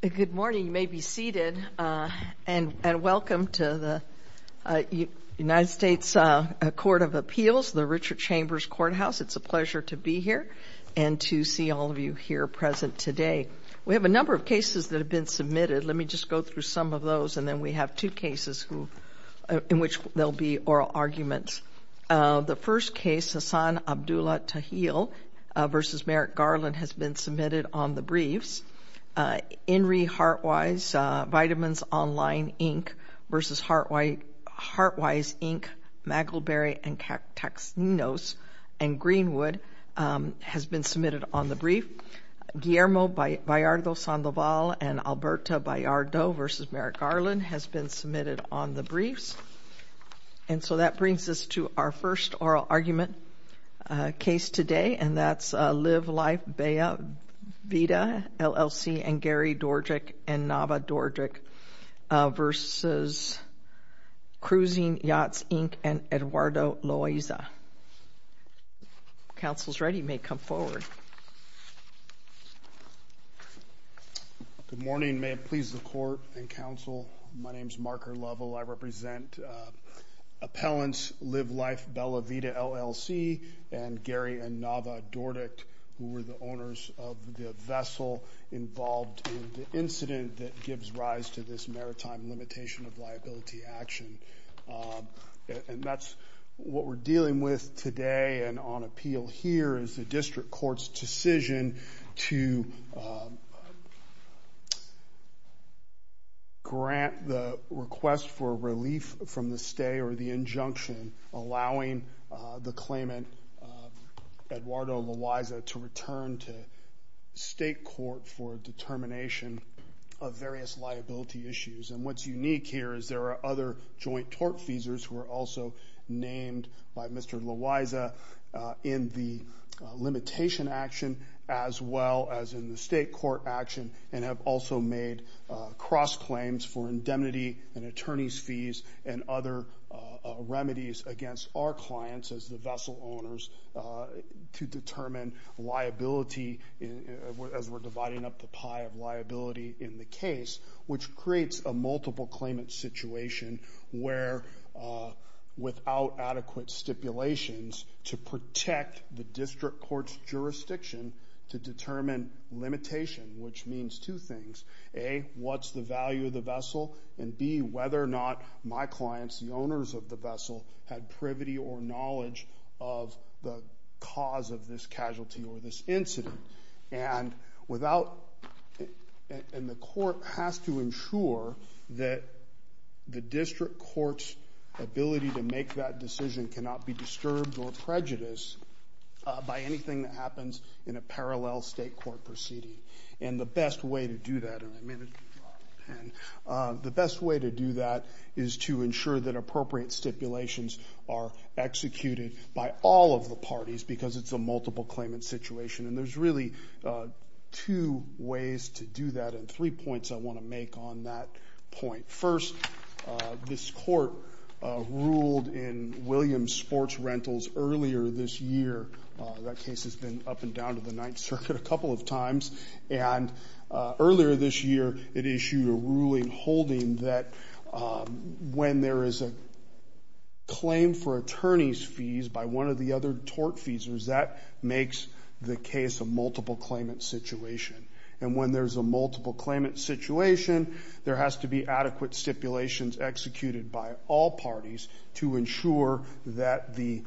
Good morning. You may be seated and welcome to the United States Court of Appeals, the Richard Chambers Courthouse. It's a pleasure to be here and to see all of you here present today. We have a number of cases that have been submitted. Let me just go through some of those, and then we have two cases in which there will be oral arguments. The first case, Hasan Abdullah Tahil v. Merrick Garland, has been submitted on the briefs. Inri Hartweis, Vitamins Online, Inc. v. Hartweis, Inc., Magelberry and Taxinos, and Greenwood, has been submitted on the brief. Guillermo Ballardo-Sandoval and Alberta Ballardo v. Merrick Garland has been submitted on the briefs. And so that brings us to our first oral argument case today, and that's Live Life Bella Vita, LLC, and Gary Dorjik and Nava Dorjik v. Cruising Yachts, Inc. and Eduardo Loiza. Counsel is ready. You may come forward. Good morning. May it please the court and counsel, my name is Marker Lovell. I represent appellants Live Life Bella Vita, LLC, and Gary and Nava Dorjik, who were the owners of the vessel involved in the incident that gives rise to this maritime limitation of liability action. And that's what we're dealing with today, and on appeal here is the district court's decision to grant the request for relief from the stay or the injunction, allowing the claimant, Eduardo Loiza, to return to state court for determination of various liability issues. And what's unique here is there are other joint tort feasers who are also named by Mr. Loiza in the limitation action as well as in the state court action and have also made cross claims for indemnity and attorney's fees and other remedies against our clients as the vessel owners to determine liability as we're dividing up the pie of liability in the case, which creates a multiple claimant situation where without adequate stipulations to protect the district court's jurisdiction to determine limitation, which means two things. A, what's the value of the vessel, and B, whether or not my clients, the owners of the vessel, had privity or knowledge of the cause of this casualty or this incident. And the court has to ensure that the district court's ability to make that decision cannot be disturbed or prejudiced by anything that happens in a parallel state court proceeding. And the best way to do that is to ensure that appropriate stipulations are executed by all of the parties because it's a multiple claimant situation. And there's really two ways to do that and three points I want to make on that point. First, this court ruled in Williams Sports Rentals earlier this year. That case has been up and down to the Ninth Circuit a couple of times. And earlier this year, it issued a ruling holding that when there is a claim for attorney's fees by one of the other tort fees, that makes the case a multiple claimant situation. And when there's a multiple claimant situation, there has to be adequate stipulations executed by all parties to ensure that the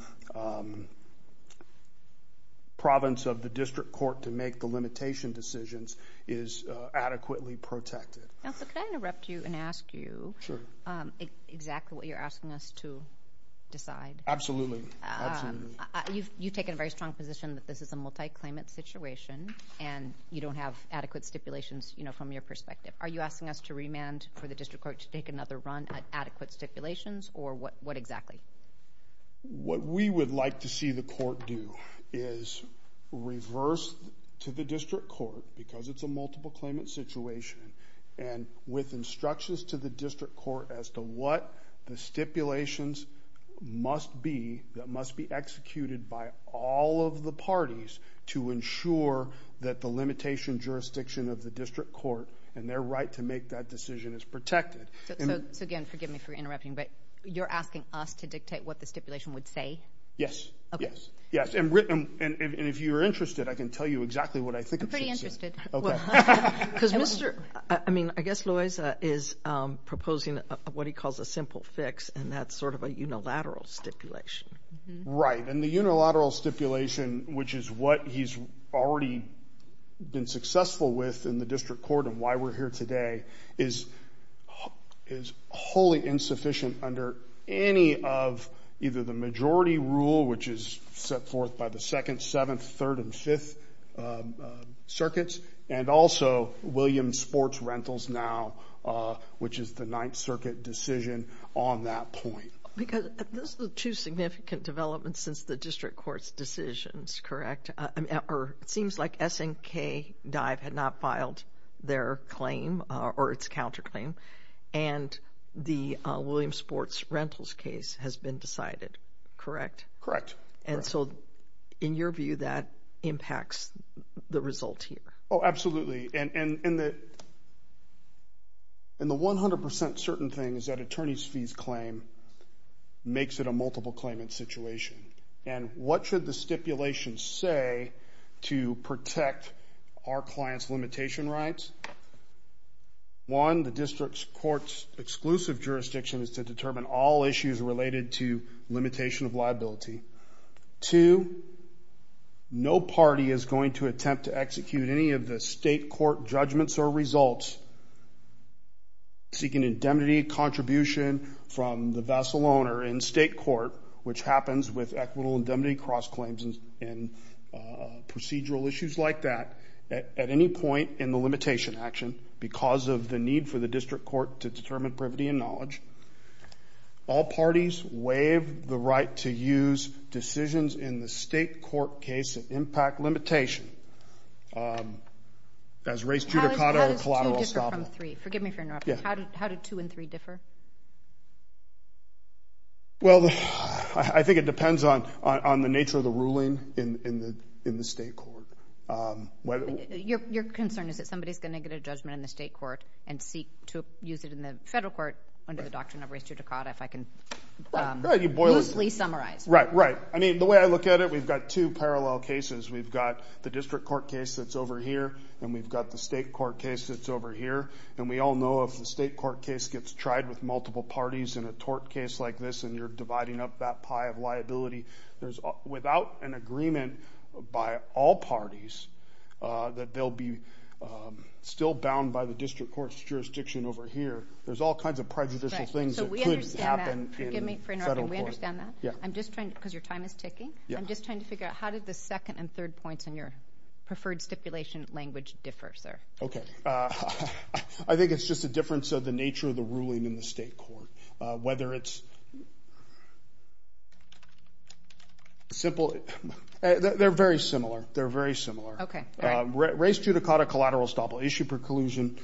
province of the district court to make the limitation decisions is adequately protected. Could I interrupt you and ask you exactly what you're asking us to decide? Absolutely. You've taken a very strong position that this is a multi-claimant situation and you don't have adequate stipulations from your perspective. Are you asking us to remand for the district court to take another run at adequate stipulations or what exactly? What we would like to see the court do is reverse to the district court because it's a multiple claimant situation and with instructions to the district court as to what the stipulations must be that must be executed by all of the parties to ensure that the limitation jurisdiction of the district court and their right to make that decision is protected. So again, forgive me for interrupting, but you're asking us to dictate what the stipulation would say? Yes. Okay. Yes. And if you're interested, I can tell you exactly what I think it should say. I'm pretty interested. Okay. I mean, I guess Louisa is proposing what he calls a simple fix and that's sort of a unilateral stipulation. Right. And the unilateral stipulation, which is what he's already been successful with in the district court and why we're here today, is wholly insufficient under any of either the majority rule, which is set forth by the 2nd, 7th, 3rd, and 5th circuits, and also Williams sports rentals now, which is the 9th circuit decision on that point. Because those are the two significant developments since the district court's decisions. Correct? Or it seems like SNK Dive had not filed their claim or its counterclaim and the Williams sports rentals case has been decided. Correct? Correct. And so in your view, that impacts the result here. Oh, absolutely. And the 100% certain thing is that attorney's fees claim makes it a multiple claimant situation. And what should the stipulation say to protect our client's limitation rights? One, the district court's exclusive jurisdiction is to determine all issues related to limitation of liability. Two, no party is going to attempt to execute any of the state court judgments or results seeking indemnity contribution from the vessel owner in state court, which happens with equitable indemnity cross claims and procedural issues like that, at any point in the limitation action because of the need for the district court to determine privity and knowledge. All parties waive the right to use decisions in the state court case that impact limitation as race, judicata, or collateral estoppel. How does two differ from three? Forgive me for interrupting. How do two and three differ? Well, I think it depends on the nature of the ruling in the state court. Your concern is that somebody's going to get a judgment in the state court and seek to use it in the federal court under the doctrine of race, judicata, if I can loosely summarize. Right, right. I mean, the way I look at it, we've got two parallel cases. We've got the district court case that's over here, and we've got the state court case that's over here. And we all know if the state court case gets tried with multiple parties in a tort case like this and you're dividing up that pie of liability, without an agreement by all parties, that they'll be still bound by the district court's jurisdiction over here. There's all kinds of prejudicial things that could happen in federal court. Right, so we understand that. Forgive me for interrupting. We understand that. Yeah. I'm just trying to, because your time is ticking. Yeah. I'm just trying to figure out how did the second and third points in your preferred stipulation language differ, sir? Okay. I think it's just a difference of the nature of the ruling in the state court, whether it's simple. They're very similar. They're very similar. Okay. Race, judicata, collateral, estoppel. Issue per collusion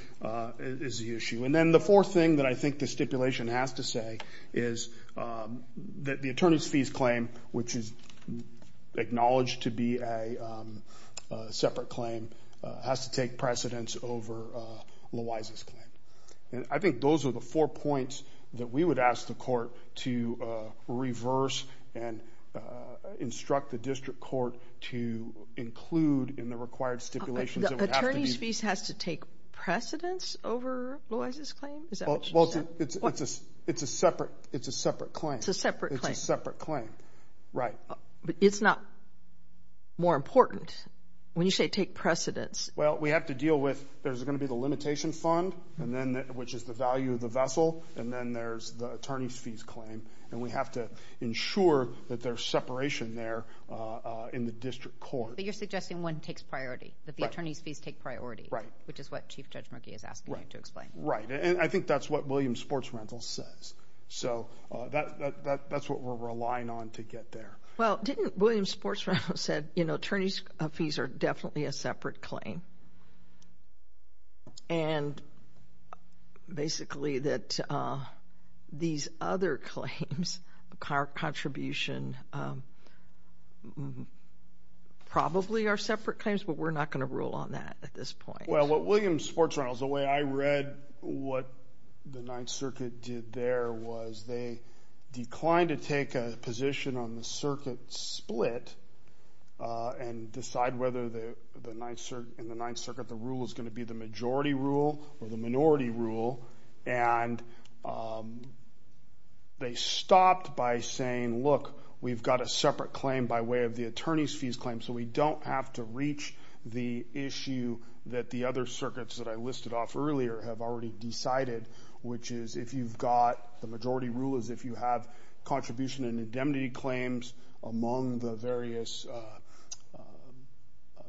is the issue. And then the fourth thing that I think the stipulation has to say is that the attorney's fees claim, which is acknowledged to be a separate claim, has to take precedence over Loaiza's claim. And I think those are the four points that we would ask the court to reverse and instruct the district court to include in the required stipulations. The attorney's fees has to take precedence over Loaiza's claim? Well, it's a separate claim. It's a separate claim. It's a separate claim. Right. But it's not more important. When you say take precedence. Well, we have to deal with there's going to be the limitation fund, which is the value of the vessel, and then there's the attorney's fees claim. And we have to ensure that there's separation there in the district court. But you're suggesting one takes priority, that the attorney's fees take priority. Right. Which is what Chief Judge McGee is asking you to explain. Right. And I think that's what William's sports rental says. So that's what we're relying on to get there. Well, didn't William's sports rental said, you know, attorney's fees are definitely a separate claim. And basically that these other claims, car contribution, probably are separate claims, but we're not going to rule on that at this point. Well, what William's sports rental, the way I read what the Ninth Circuit did there was they declined to take a position on the circuit split and decide whether in the Ninth Circuit the rule is going to be the majority rule or the minority rule. And they stopped by saying, look, we've got a separate claim by way of the attorney's fees claim, so we don't have to reach the issue that the other circuits that I listed off earlier have already decided. Which is if you've got, the majority rule is if you have contribution and indemnity claims among the various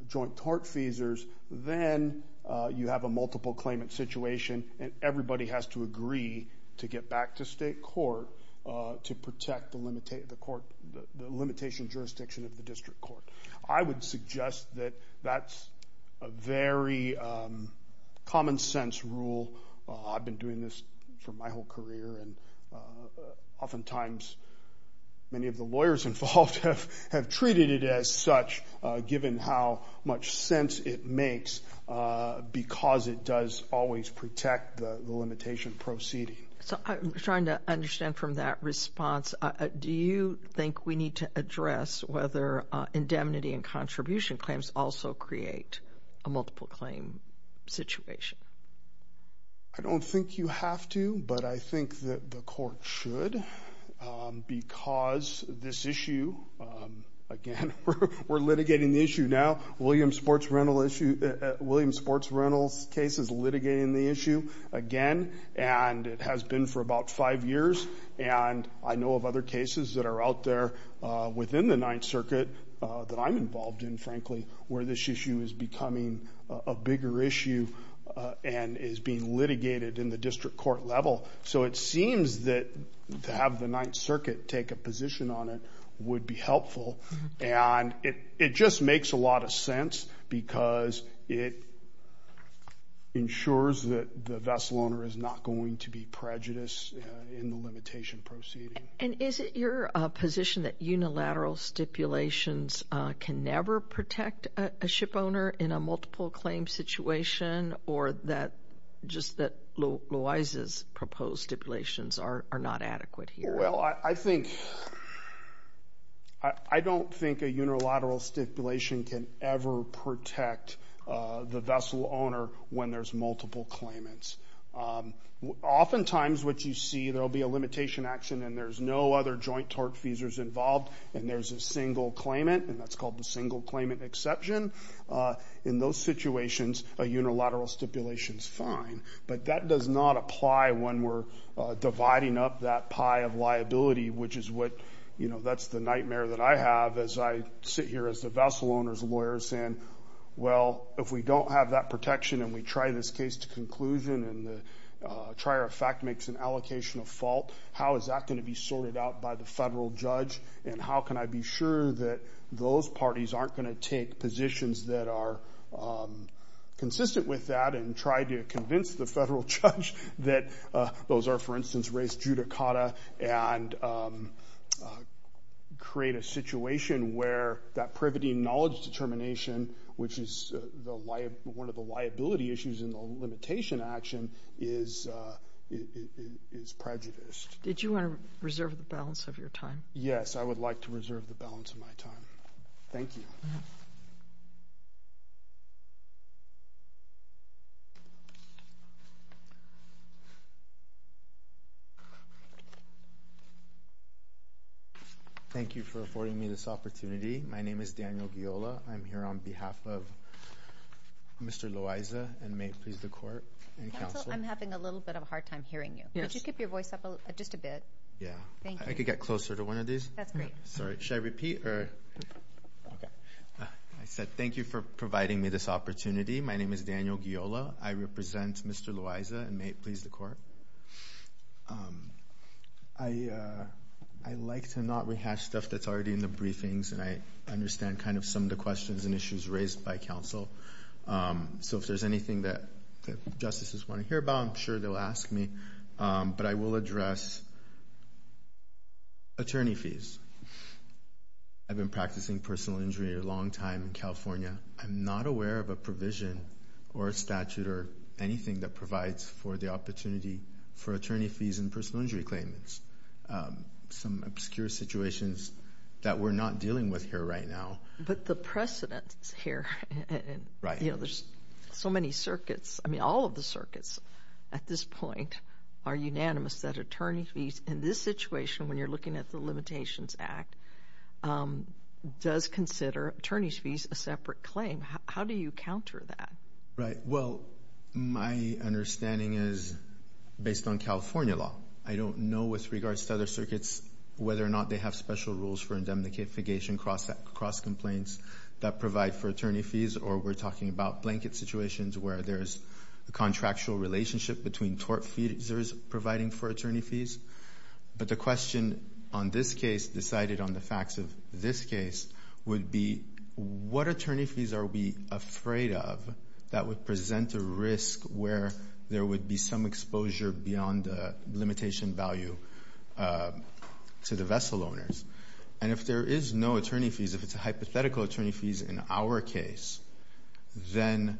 joint tort feasors, then you have a multiple claimant situation. And everybody has to agree to get back to state court to protect the limitation jurisdiction of the district court. I would suggest that that's a very common sense rule. I've been doing this for my whole career, and oftentimes many of the lawyers involved have treated it as such, given how much sense it makes, because it does always protect the limitation proceeding. So I'm trying to understand from that response, do you think we need to address whether indemnity and contribution claims also create a multiple claim situation? I don't think you have to, but I think that the court should because this issue, again, we're litigating the issue now. William Sports Rental's case is litigating the issue again, and it has been for about five years. And I know of other cases that are out there within the Ninth Circuit that I'm involved in, frankly, where this issue is becoming a bigger issue and is being litigated in the district court level. So it seems that to have the Ninth Circuit take a position on it would be helpful. And it just makes a lot of sense because it ensures that the vessel owner is not going to be prejudiced in the limitation proceeding. And is it your position that unilateral stipulations can never protect a shipowner in a multiple claim situation, or that just that Loaiza's proposed stipulations are not adequate here? Well, I don't think a unilateral stipulation can ever protect the vessel owner when there's multiple claimants. Oftentimes what you see, there will be a limitation action, and there's no other joint tort feasors involved, and there's a single claimant, and that's called the single claimant exception. In those situations, a unilateral stipulation is fine, but that does not apply when we're dividing up that pie of liability, which is what, you know, that's the nightmare that I have as I sit here as the vessel owner's lawyer saying, well, if we don't have that protection and we try this case to conclusion and the trier of fact makes an allocation of fault, how is that going to be sorted out by the federal judge? And how can I be sure that those parties aren't going to take positions that are consistent with that and try to convince the federal judge that those are, for instance, race judicata, and create a situation where that privity and knowledge determination, which is one of the liability issues in the limitation action, is prejudiced. Did you want to reserve the balance of your time? Yes, I would like to reserve the balance of my time. Thank you. Thank you for affording me this opportunity. My name is Daniel Giola. I'm here on behalf of Mr. Loaiza, and may it please the court and counsel. Counsel, I'm having a little bit of a hard time hearing you. Yes. Could you keep your voice up just a bit? Yeah. Thank you. I could get closer to one of these. That's great. Sorry. Should I repeat? Okay. I said thank you for providing me this opportunity. My name is Daniel Giola. I represent Mr. Loaiza, and may it please the court. I like to not rehash stuff that's already in the briefings, and I understand kind of some of the questions and issues raised by counsel. So if there's anything that justices want to hear about, I'm sure they'll ask me, but I will address attorney fees. I've been practicing personal injury a long time in California. I'm not aware of a provision or a statute or anything that provides for the opportunity for attorney fees and personal injury claimants, some obscure situations that we're not dealing with here right now. But the precedent is here. Right. You know, there's so many circuits. I mean, all of the circuits at this point are unanimous that attorney fees in this situation, when you're looking at the Limitations Act, does consider attorney fees a separate claim. How do you counter that? Right. Well, my understanding is based on California law. I don't know with regards to other circuits whether or not they have special rules for indemnification, cross-complaints that provide for attorney fees, or we're talking about blanket situations where there's a contractual relationship between tort fees providing for attorney fees. But the question on this case decided on the facts of this case would be what attorney fees are we afraid of that would present a risk where there would be some exposure beyond the limitation value to the vessel owners. And if there is no attorney fees, if it's a hypothetical attorney fees in our case, then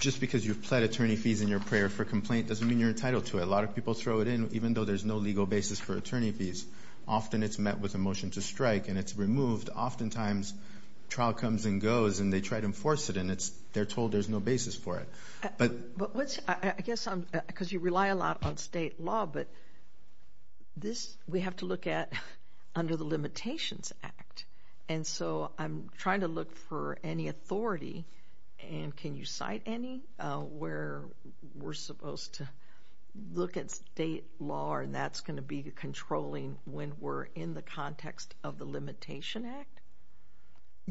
just because you've pled attorney fees in your prayer for complaint doesn't mean you're entitled to it. A lot of people throw it in even though there's no legal basis for attorney fees. Often it's met with a motion to strike, and it's removed. Oftentimes trial comes and goes, and they try to enforce it, and they're told there's no basis for it. I guess because you rely a lot on state law, but this we have to look at under the Limitations Act. And so I'm trying to look for any authority, and can you cite any where we're supposed to look at state law and that's going to be controlling when we're in the context of the Limitation Act?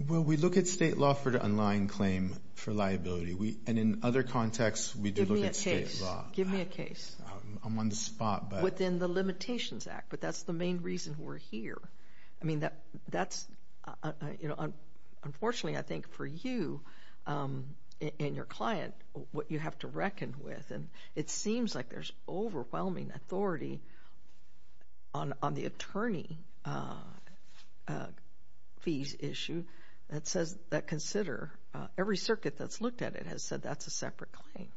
Well, we look at state law for the underlying claim for liability, and in other contexts we do look at state law. Give me a case. Give me a case. I'm on the spot. Within the Limitations Act, but that's the main reason we're here. I mean, that's unfortunately I think for you and your client what you have to reckon with, and it seems like there's overwhelming authority on the attorney fees issue that says that consider. Every circuit that's looked at it has said that's a separate claim.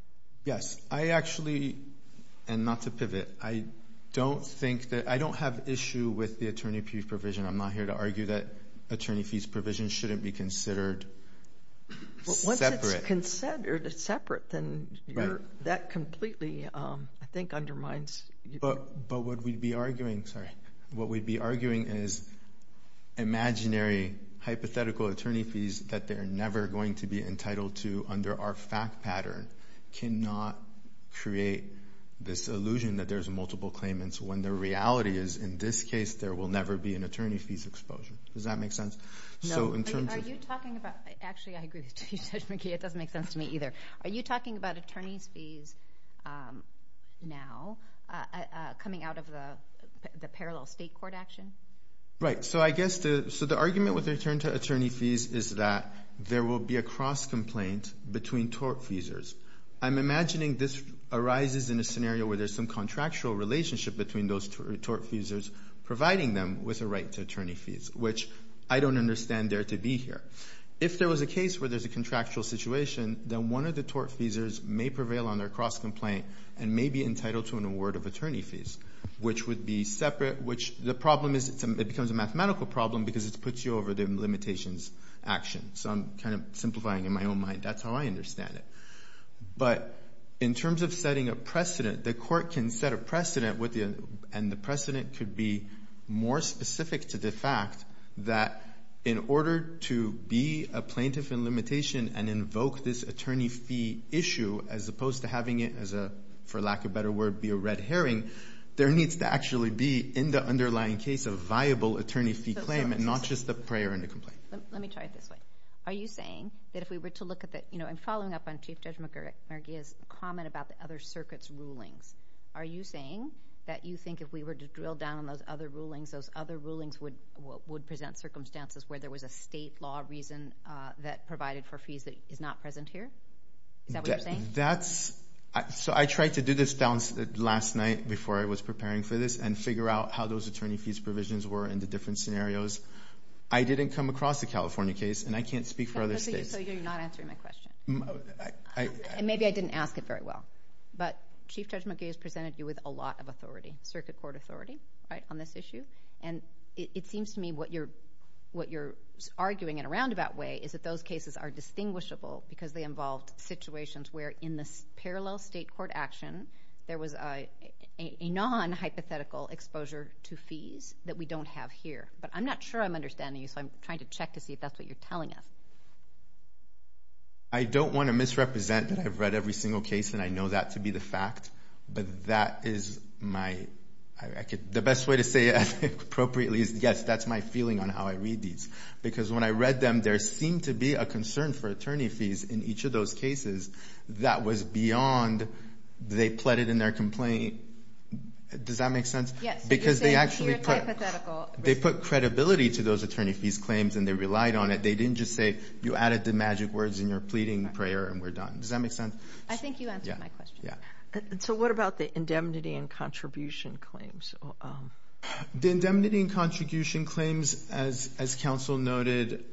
Yes. I actually, and not to pivot, I don't think that I don't have issue with the attorney fee provision. I'm not here to argue that attorney fees provision shouldn't be considered separate. Once it's considered separate, then that completely I think undermines. But what we'd be arguing is imaginary hypothetical attorney fees that they're never going to be entitled to under our fact pattern cannot create this illusion that there's multiple claimants when the reality is in this case there will never be an attorney fees exposure. Does that make sense? No. So in terms of- Are you talking about- Actually, I agree with Judge McKee. It doesn't make sense to me either. Are you talking about attorney fees now coming out of the parallel state court action? Right. So I guess the argument with return to attorney fees is that there will be a cross complaint between tort feasers. I'm imagining this arises in a scenario where there's some contractual relationship between those tort feasers providing them with a right to attorney fees, which I don't understand there to be here. If there was a case where there's a contractual situation, then one of the tort feasers may prevail on their cross complaint and may be entitled to an award of attorney fees, which would be separate, which the problem is it becomes a mathematical problem because it puts you over the limitations action. So I'm kind of simplifying in my own mind. That's how I understand it. But in terms of setting a precedent, the court can set a precedent and the precedent could be more specific to the fact that in order to be a plaintiff in limitation and invoke this attorney fee issue as opposed to having it, for lack of a better word, be a red herring, there needs to actually be in the underlying case a viable attorney fee claim and not just a prior and a complaint. Let me try it this way. Are you saying that if we were to look at that, you know, and following up on Chief Judge McGeer's comment about the other circuit's rulings, are you saying that you think if we were to drill down on those other rulings, those other rulings would present circumstances where there was a state law reason that provided for fees that is not present here? Is that what you're saying? So I tried to do this last night before I was preparing for this and figure out how those attorney fees provisions were in the different scenarios. I didn't come across the California case, and I can't speak for other states. So you're not answering my question. And maybe I didn't ask it very well. But Chief Judge McGeer has presented you with a lot of authority, circuit court authority, right, on this issue. And it seems to me what you're arguing in a roundabout way is that those cases are distinguishable because they involved situations where in the parallel state court action, there was a non-hypothetical exposure to fees that we don't have here. But I'm not sure I'm understanding you, so I'm trying to check to see if that's what you're telling us. I don't want to misrepresent that I've read every single case, and I know that to be the fact. But that is my – the best way to say it appropriately is, yes, that's my feeling on how I read these. Because when I read them, there seemed to be a concern for attorney fees in each of those cases that was beyond they pleaded in their complaint. Does that make sense? Yes. Because they actually put credibility to those attorney fees claims, and they relied on it. They didn't just say, you added the magic words in your pleading prayer, and we're done. Does that make sense? I think you answered my question. Yeah. So what about the indemnity and contribution claims? The indemnity and contribution claims, as counsel noted,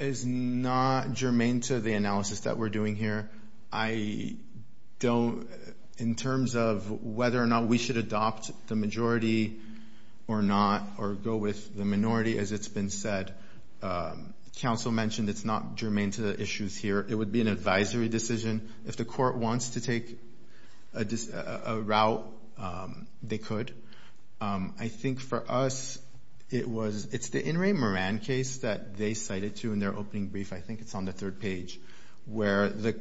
is not germane to the analysis that we're doing here. I don't – in terms of whether or not we should adopt the majority or not or go with the minority, as it's been said, counsel mentioned it's not germane to the issues here. It would be an advisory decision. If the court wants to take a route, they could. I think for us it was – it's the In re Moran case that they cited too in their opening brief. I think it's on the third page where the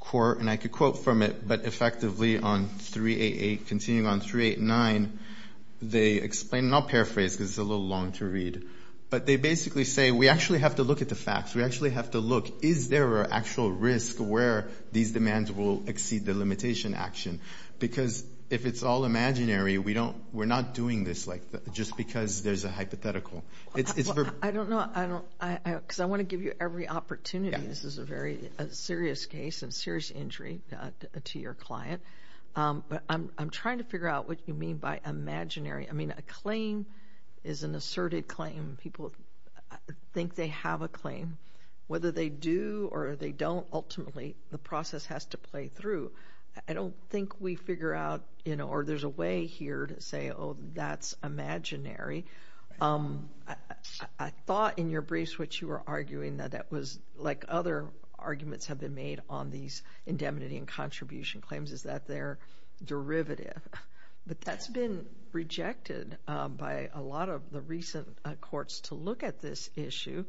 court – and I could quote from it, but effectively on 388, continuing on 389, they explain – I'll paraphrase because it's a little long to read. But they basically say we actually have to look at the facts. We actually have to look. Is there an actual risk where these demands will exceed the limitation action? Because if it's all imaginary, we don't – we're not doing this just because there's a hypothetical. I don't know. I don't – because I want to give you every opportunity. This is a very serious case, a serious injury to your client. But I'm trying to figure out what you mean by imaginary. I mean a claim is an asserted claim. People think they have a claim. Whether they do or they don't, ultimately the process has to play through. I don't think we figure out – or there's a way here to say, oh, that's imaginary. I thought in your briefs what you were arguing that that was – like other arguments have been made on these indemnity and contribution claims is that they're derivative. But that's been rejected by a lot of the recent courts to look at this issue.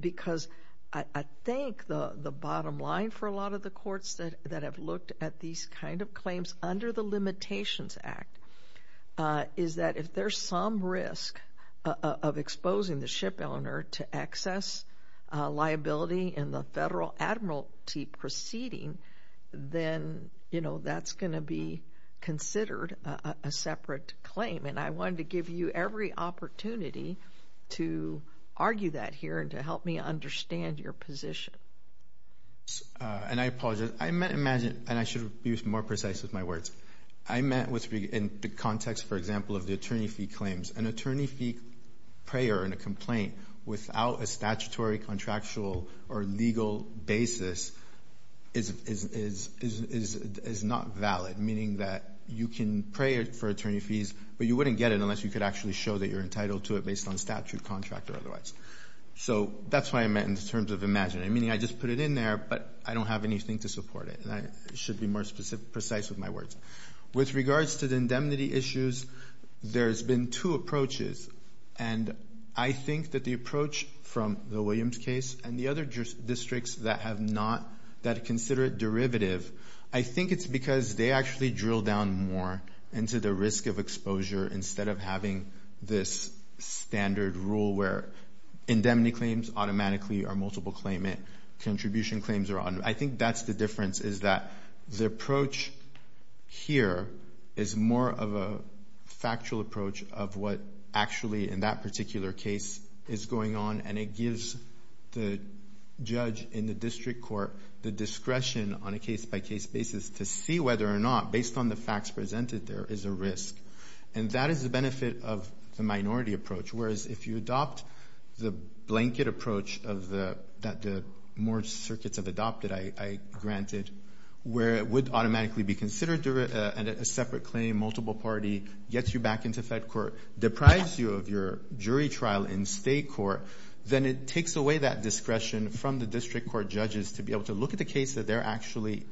Because I think the bottom line for a lot of the courts that have looked at these kind of claims under the Limitations Act is that if there's some risk of exposing the shipowner to excess liability in the federal admiralty proceeding, then that's going to be considered a separate claim. And I wanted to give you every opportunity to argue that here and to help me understand your position. And I apologize. I meant – and I should be more precise with my words. I meant in the context, for example, of the attorney fee claims. An attorney fee prayer and a complaint without a statutory, contractual, or legal basis is not valid, meaning that you can pray for attorney fees, but you wouldn't get it unless you could actually show that you're entitled to it based on statute, contract, or otherwise. So that's why I meant in terms of imaginary, meaning I just put it in there, but I don't have anything to support it. And I should be more precise with my words. With regards to the indemnity issues, there's been two approaches. And I think that the approach from the Williams case and the other districts that have not – that consider it derivative, I think it's because they actually drill down more into the risk of exposure instead of having this standard rule where indemnity claims automatically are multiple claimant, contribution claims are – I think that's the difference, is that the approach here is more of a factual approach of what actually in that particular case is going on. And it gives the judge in the district court the discretion on a case-by-case basis to see whether or not, based on the facts presented there, is a risk. And that is the benefit of the minority approach. Whereas if you adopt the blanket approach that the more circuits have adopted, I granted, where it would automatically be considered a separate claim, multiple party, gets you back into fed court, deprives you of your jury trial in state court, then it takes away that discretion from the district court judges to be able to look at the case that they actually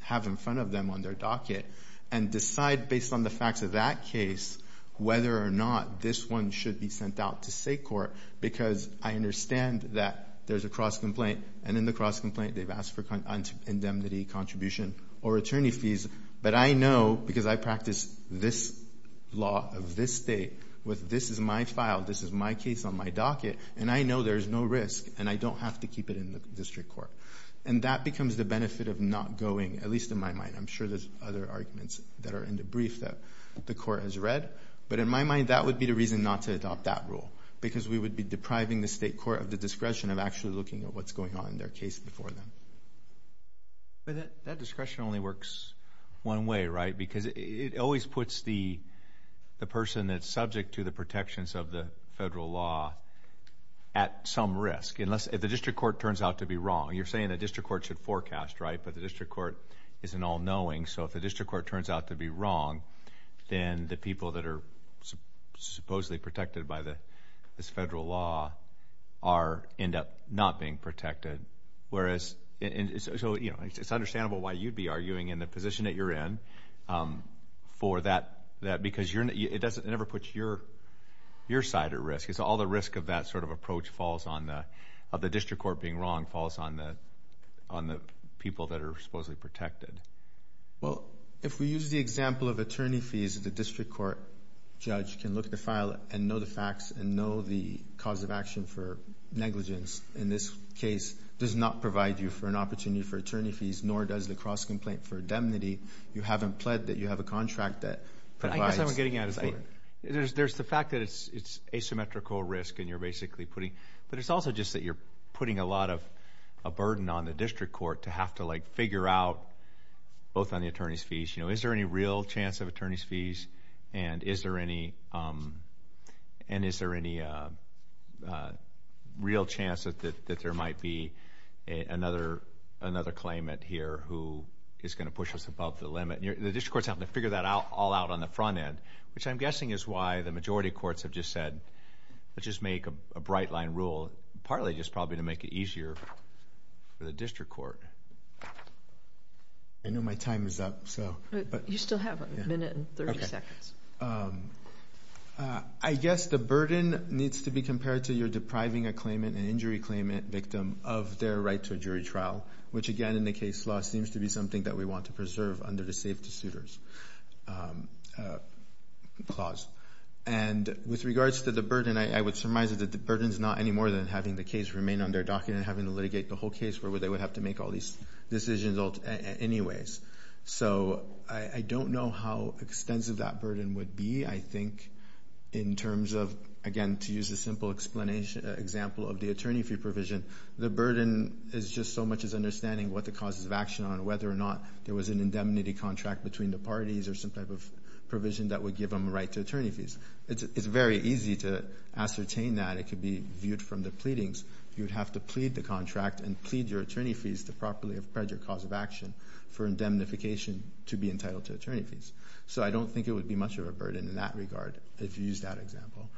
have in front of them on their docket and decide, based on the facts of that case, whether or not this one should be sent out to state court. Because I understand that there's a cross-complaint, and in the cross-complaint they've asked for indemnity, contribution, or attorney fees. But I know, because I practice this law of this state with this is my file, this is my case on my docket, and I know there's no risk, and I don't have to keep it in the district court. And that becomes the benefit of not going, at least in my mind. I'm sure there's other arguments that are in the brief that the court has read. But in my mind, that would be the reason not to adopt that rule, because we would be depriving the state court of the discretion of actually looking at what's going on in their case before them. But that discretion only works one way, right? Because it always puts the person that's subject to the protections of the federal law at some risk. If the district court turns out to be wrong, you're saying the district court should forecast, right? But the district court is an all-knowing. So if the district court turns out to be wrong, then the people that are supposedly protected by this federal law end up not being protected. So, you know, it's understandable why you'd be arguing in the position that you're in for that, because it never puts your side at risk. It's all the risk of that sort of approach falls on the district court being wrong falls on the people that are supposedly protected. Well, if we use the example of attorney fees, the district court judge can look at the file and know the facts and know the cause of action for negligence. In this case, it does not provide you for an opportunity for attorney fees, nor does the cross-complaint for indemnity. You haven't pled that you have a contract that provides for it. But I guess what I'm getting at is there's the fact that it's asymmetrical risk, and you're basically putting – but it's also just that you're putting a lot of a burden on the district court to have to, like, figure out both on the attorney's fees, you know, is there any real chance of attorney's fees? And is there any real chance that there might be another claimant here who is going to push us above the limit? The district court's having to figure that all out on the front end, which I'm guessing is why the majority of courts have just said let's just make a bright-line rule, partly just probably to make it easier for the district court. I know my time is up, so – You still have a minute and 30 seconds. I guess the burden needs to be compared to your depriving a claimant, an injury claimant victim, of their right to a jury trial, which again in the case law seems to be something that we want to preserve under the safety suitors clause. And with regards to the burden, I would surmise that the burden is not any more than having the case remain on their docket and having to litigate the whole case where they would have to make all these decisions anyways. So I don't know how extensive that burden would be. I think in terms of, again, to use a simple example of the attorney fee provision, the burden is just so much as understanding what the causes of action are and whether or not there was an indemnity contract between the parties or some type of provision that would give them a right to attorney fees. It's very easy to ascertain that. It could be viewed from the pleadings. You would have to plead the contract and plead your attorney fees to properly have pledged your cause of action for indemnification to be entitled to attorney fees. So I don't think it would be much of a burden in that regard if you use that example.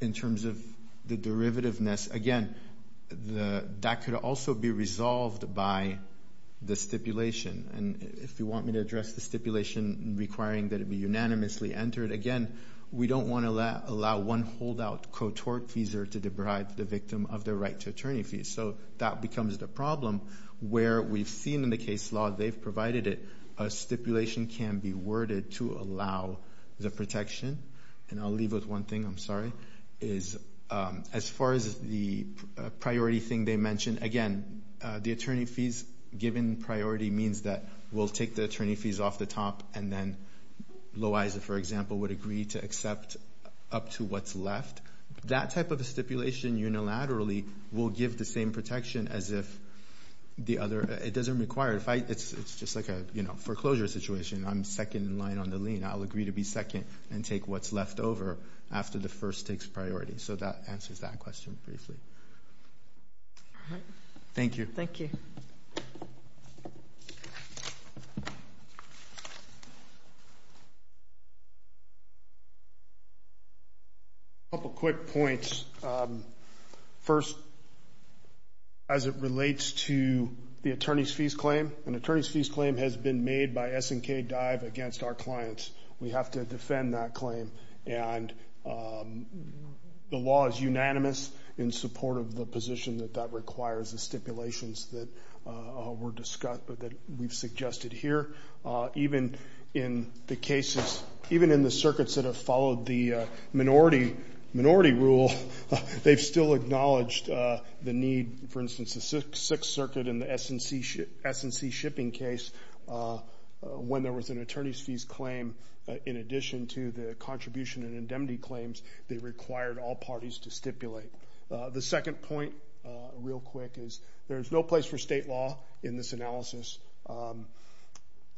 In terms of the derivativeness, again, that could also be resolved by the stipulation. And if you want me to address the stipulation requiring that it be unanimously entered, again, we don't want to allow one holdout co-tort feeser to deprive the victim of their right to attorney fees. So that becomes the problem where we've seen in the case law they've provided it, a stipulation can be worded to allow the protection. And I'll leave with one thing, I'm sorry, is as far as the priority thing they mentioned, again, the attorney fees given priority means that we'll take the attorney fees off the top and then Loaiza, for example, would agree to accept up to what's left. That type of a stipulation unilaterally will give the same protection as if the other. It doesn't require it. It's just like a foreclosure situation. I'm second in line on the lien. I'll agree to be second and take what's left over after the first takes priority. So that answers that question briefly. All right. Thank you. Thank you. A couple quick points. First, as it relates to the attorney's fees claim, an attorney's fees claim has been made by S&K Dive against our clients. We have to defend that claim. And the law is unanimous in support of the position that that requires, the stipulations that were discussed but that we've suggested here. Even in the cases, even in the circuits that have followed the minority rule, they've still acknowledged the need, for instance, the Sixth Circuit and the S&C shipping case, when there was an attorney's fees claim, in addition to the contribution and indemnity claims, they required all parties to stipulate. The second point, real quick, is there is no place for state law in this analysis.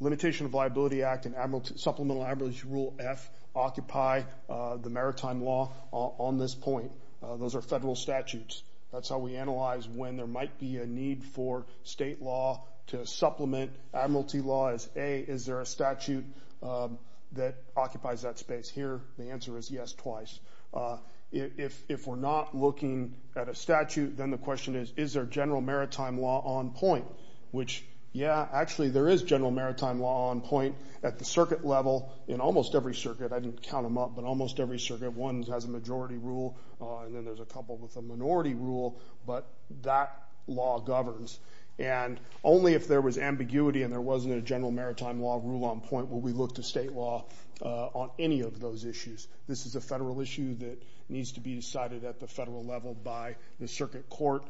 Limitation of Liability Act and Supplemental Admiralty Rule F occupy the maritime law on this point. Those are federal statutes. That's how we analyze when there might be a need for state law to supplement admiralty laws. A, is there a statute that occupies that space? Here, the answer is yes, twice. If we're not looking at a statute, then the question is, is there general maritime law on point? Which, yeah, actually there is general maritime law on point at the circuit level in almost every circuit. I didn't count them up, but almost every circuit. One has a majority rule, and then there's a couple with a minority rule, but that law governs. And only if there was ambiguity and there wasn't a general maritime law rule on point would we look to state law on any of those issues. This is a federal issue that needs to be decided at the federal level by the circuit court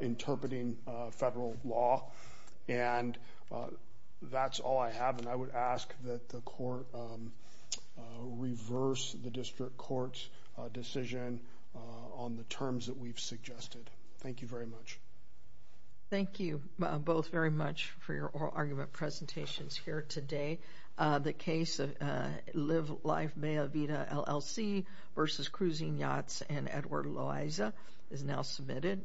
interpreting federal law. And that's all I have. And I would ask that the court reverse the district court's decision on the terms that we've suggested. Thank you very much. Thank you both very much for your oral argument presentations here today. The case of Live Life Mayavida LLC versus Cruising Yachts and Edward Loaiza is now submitted.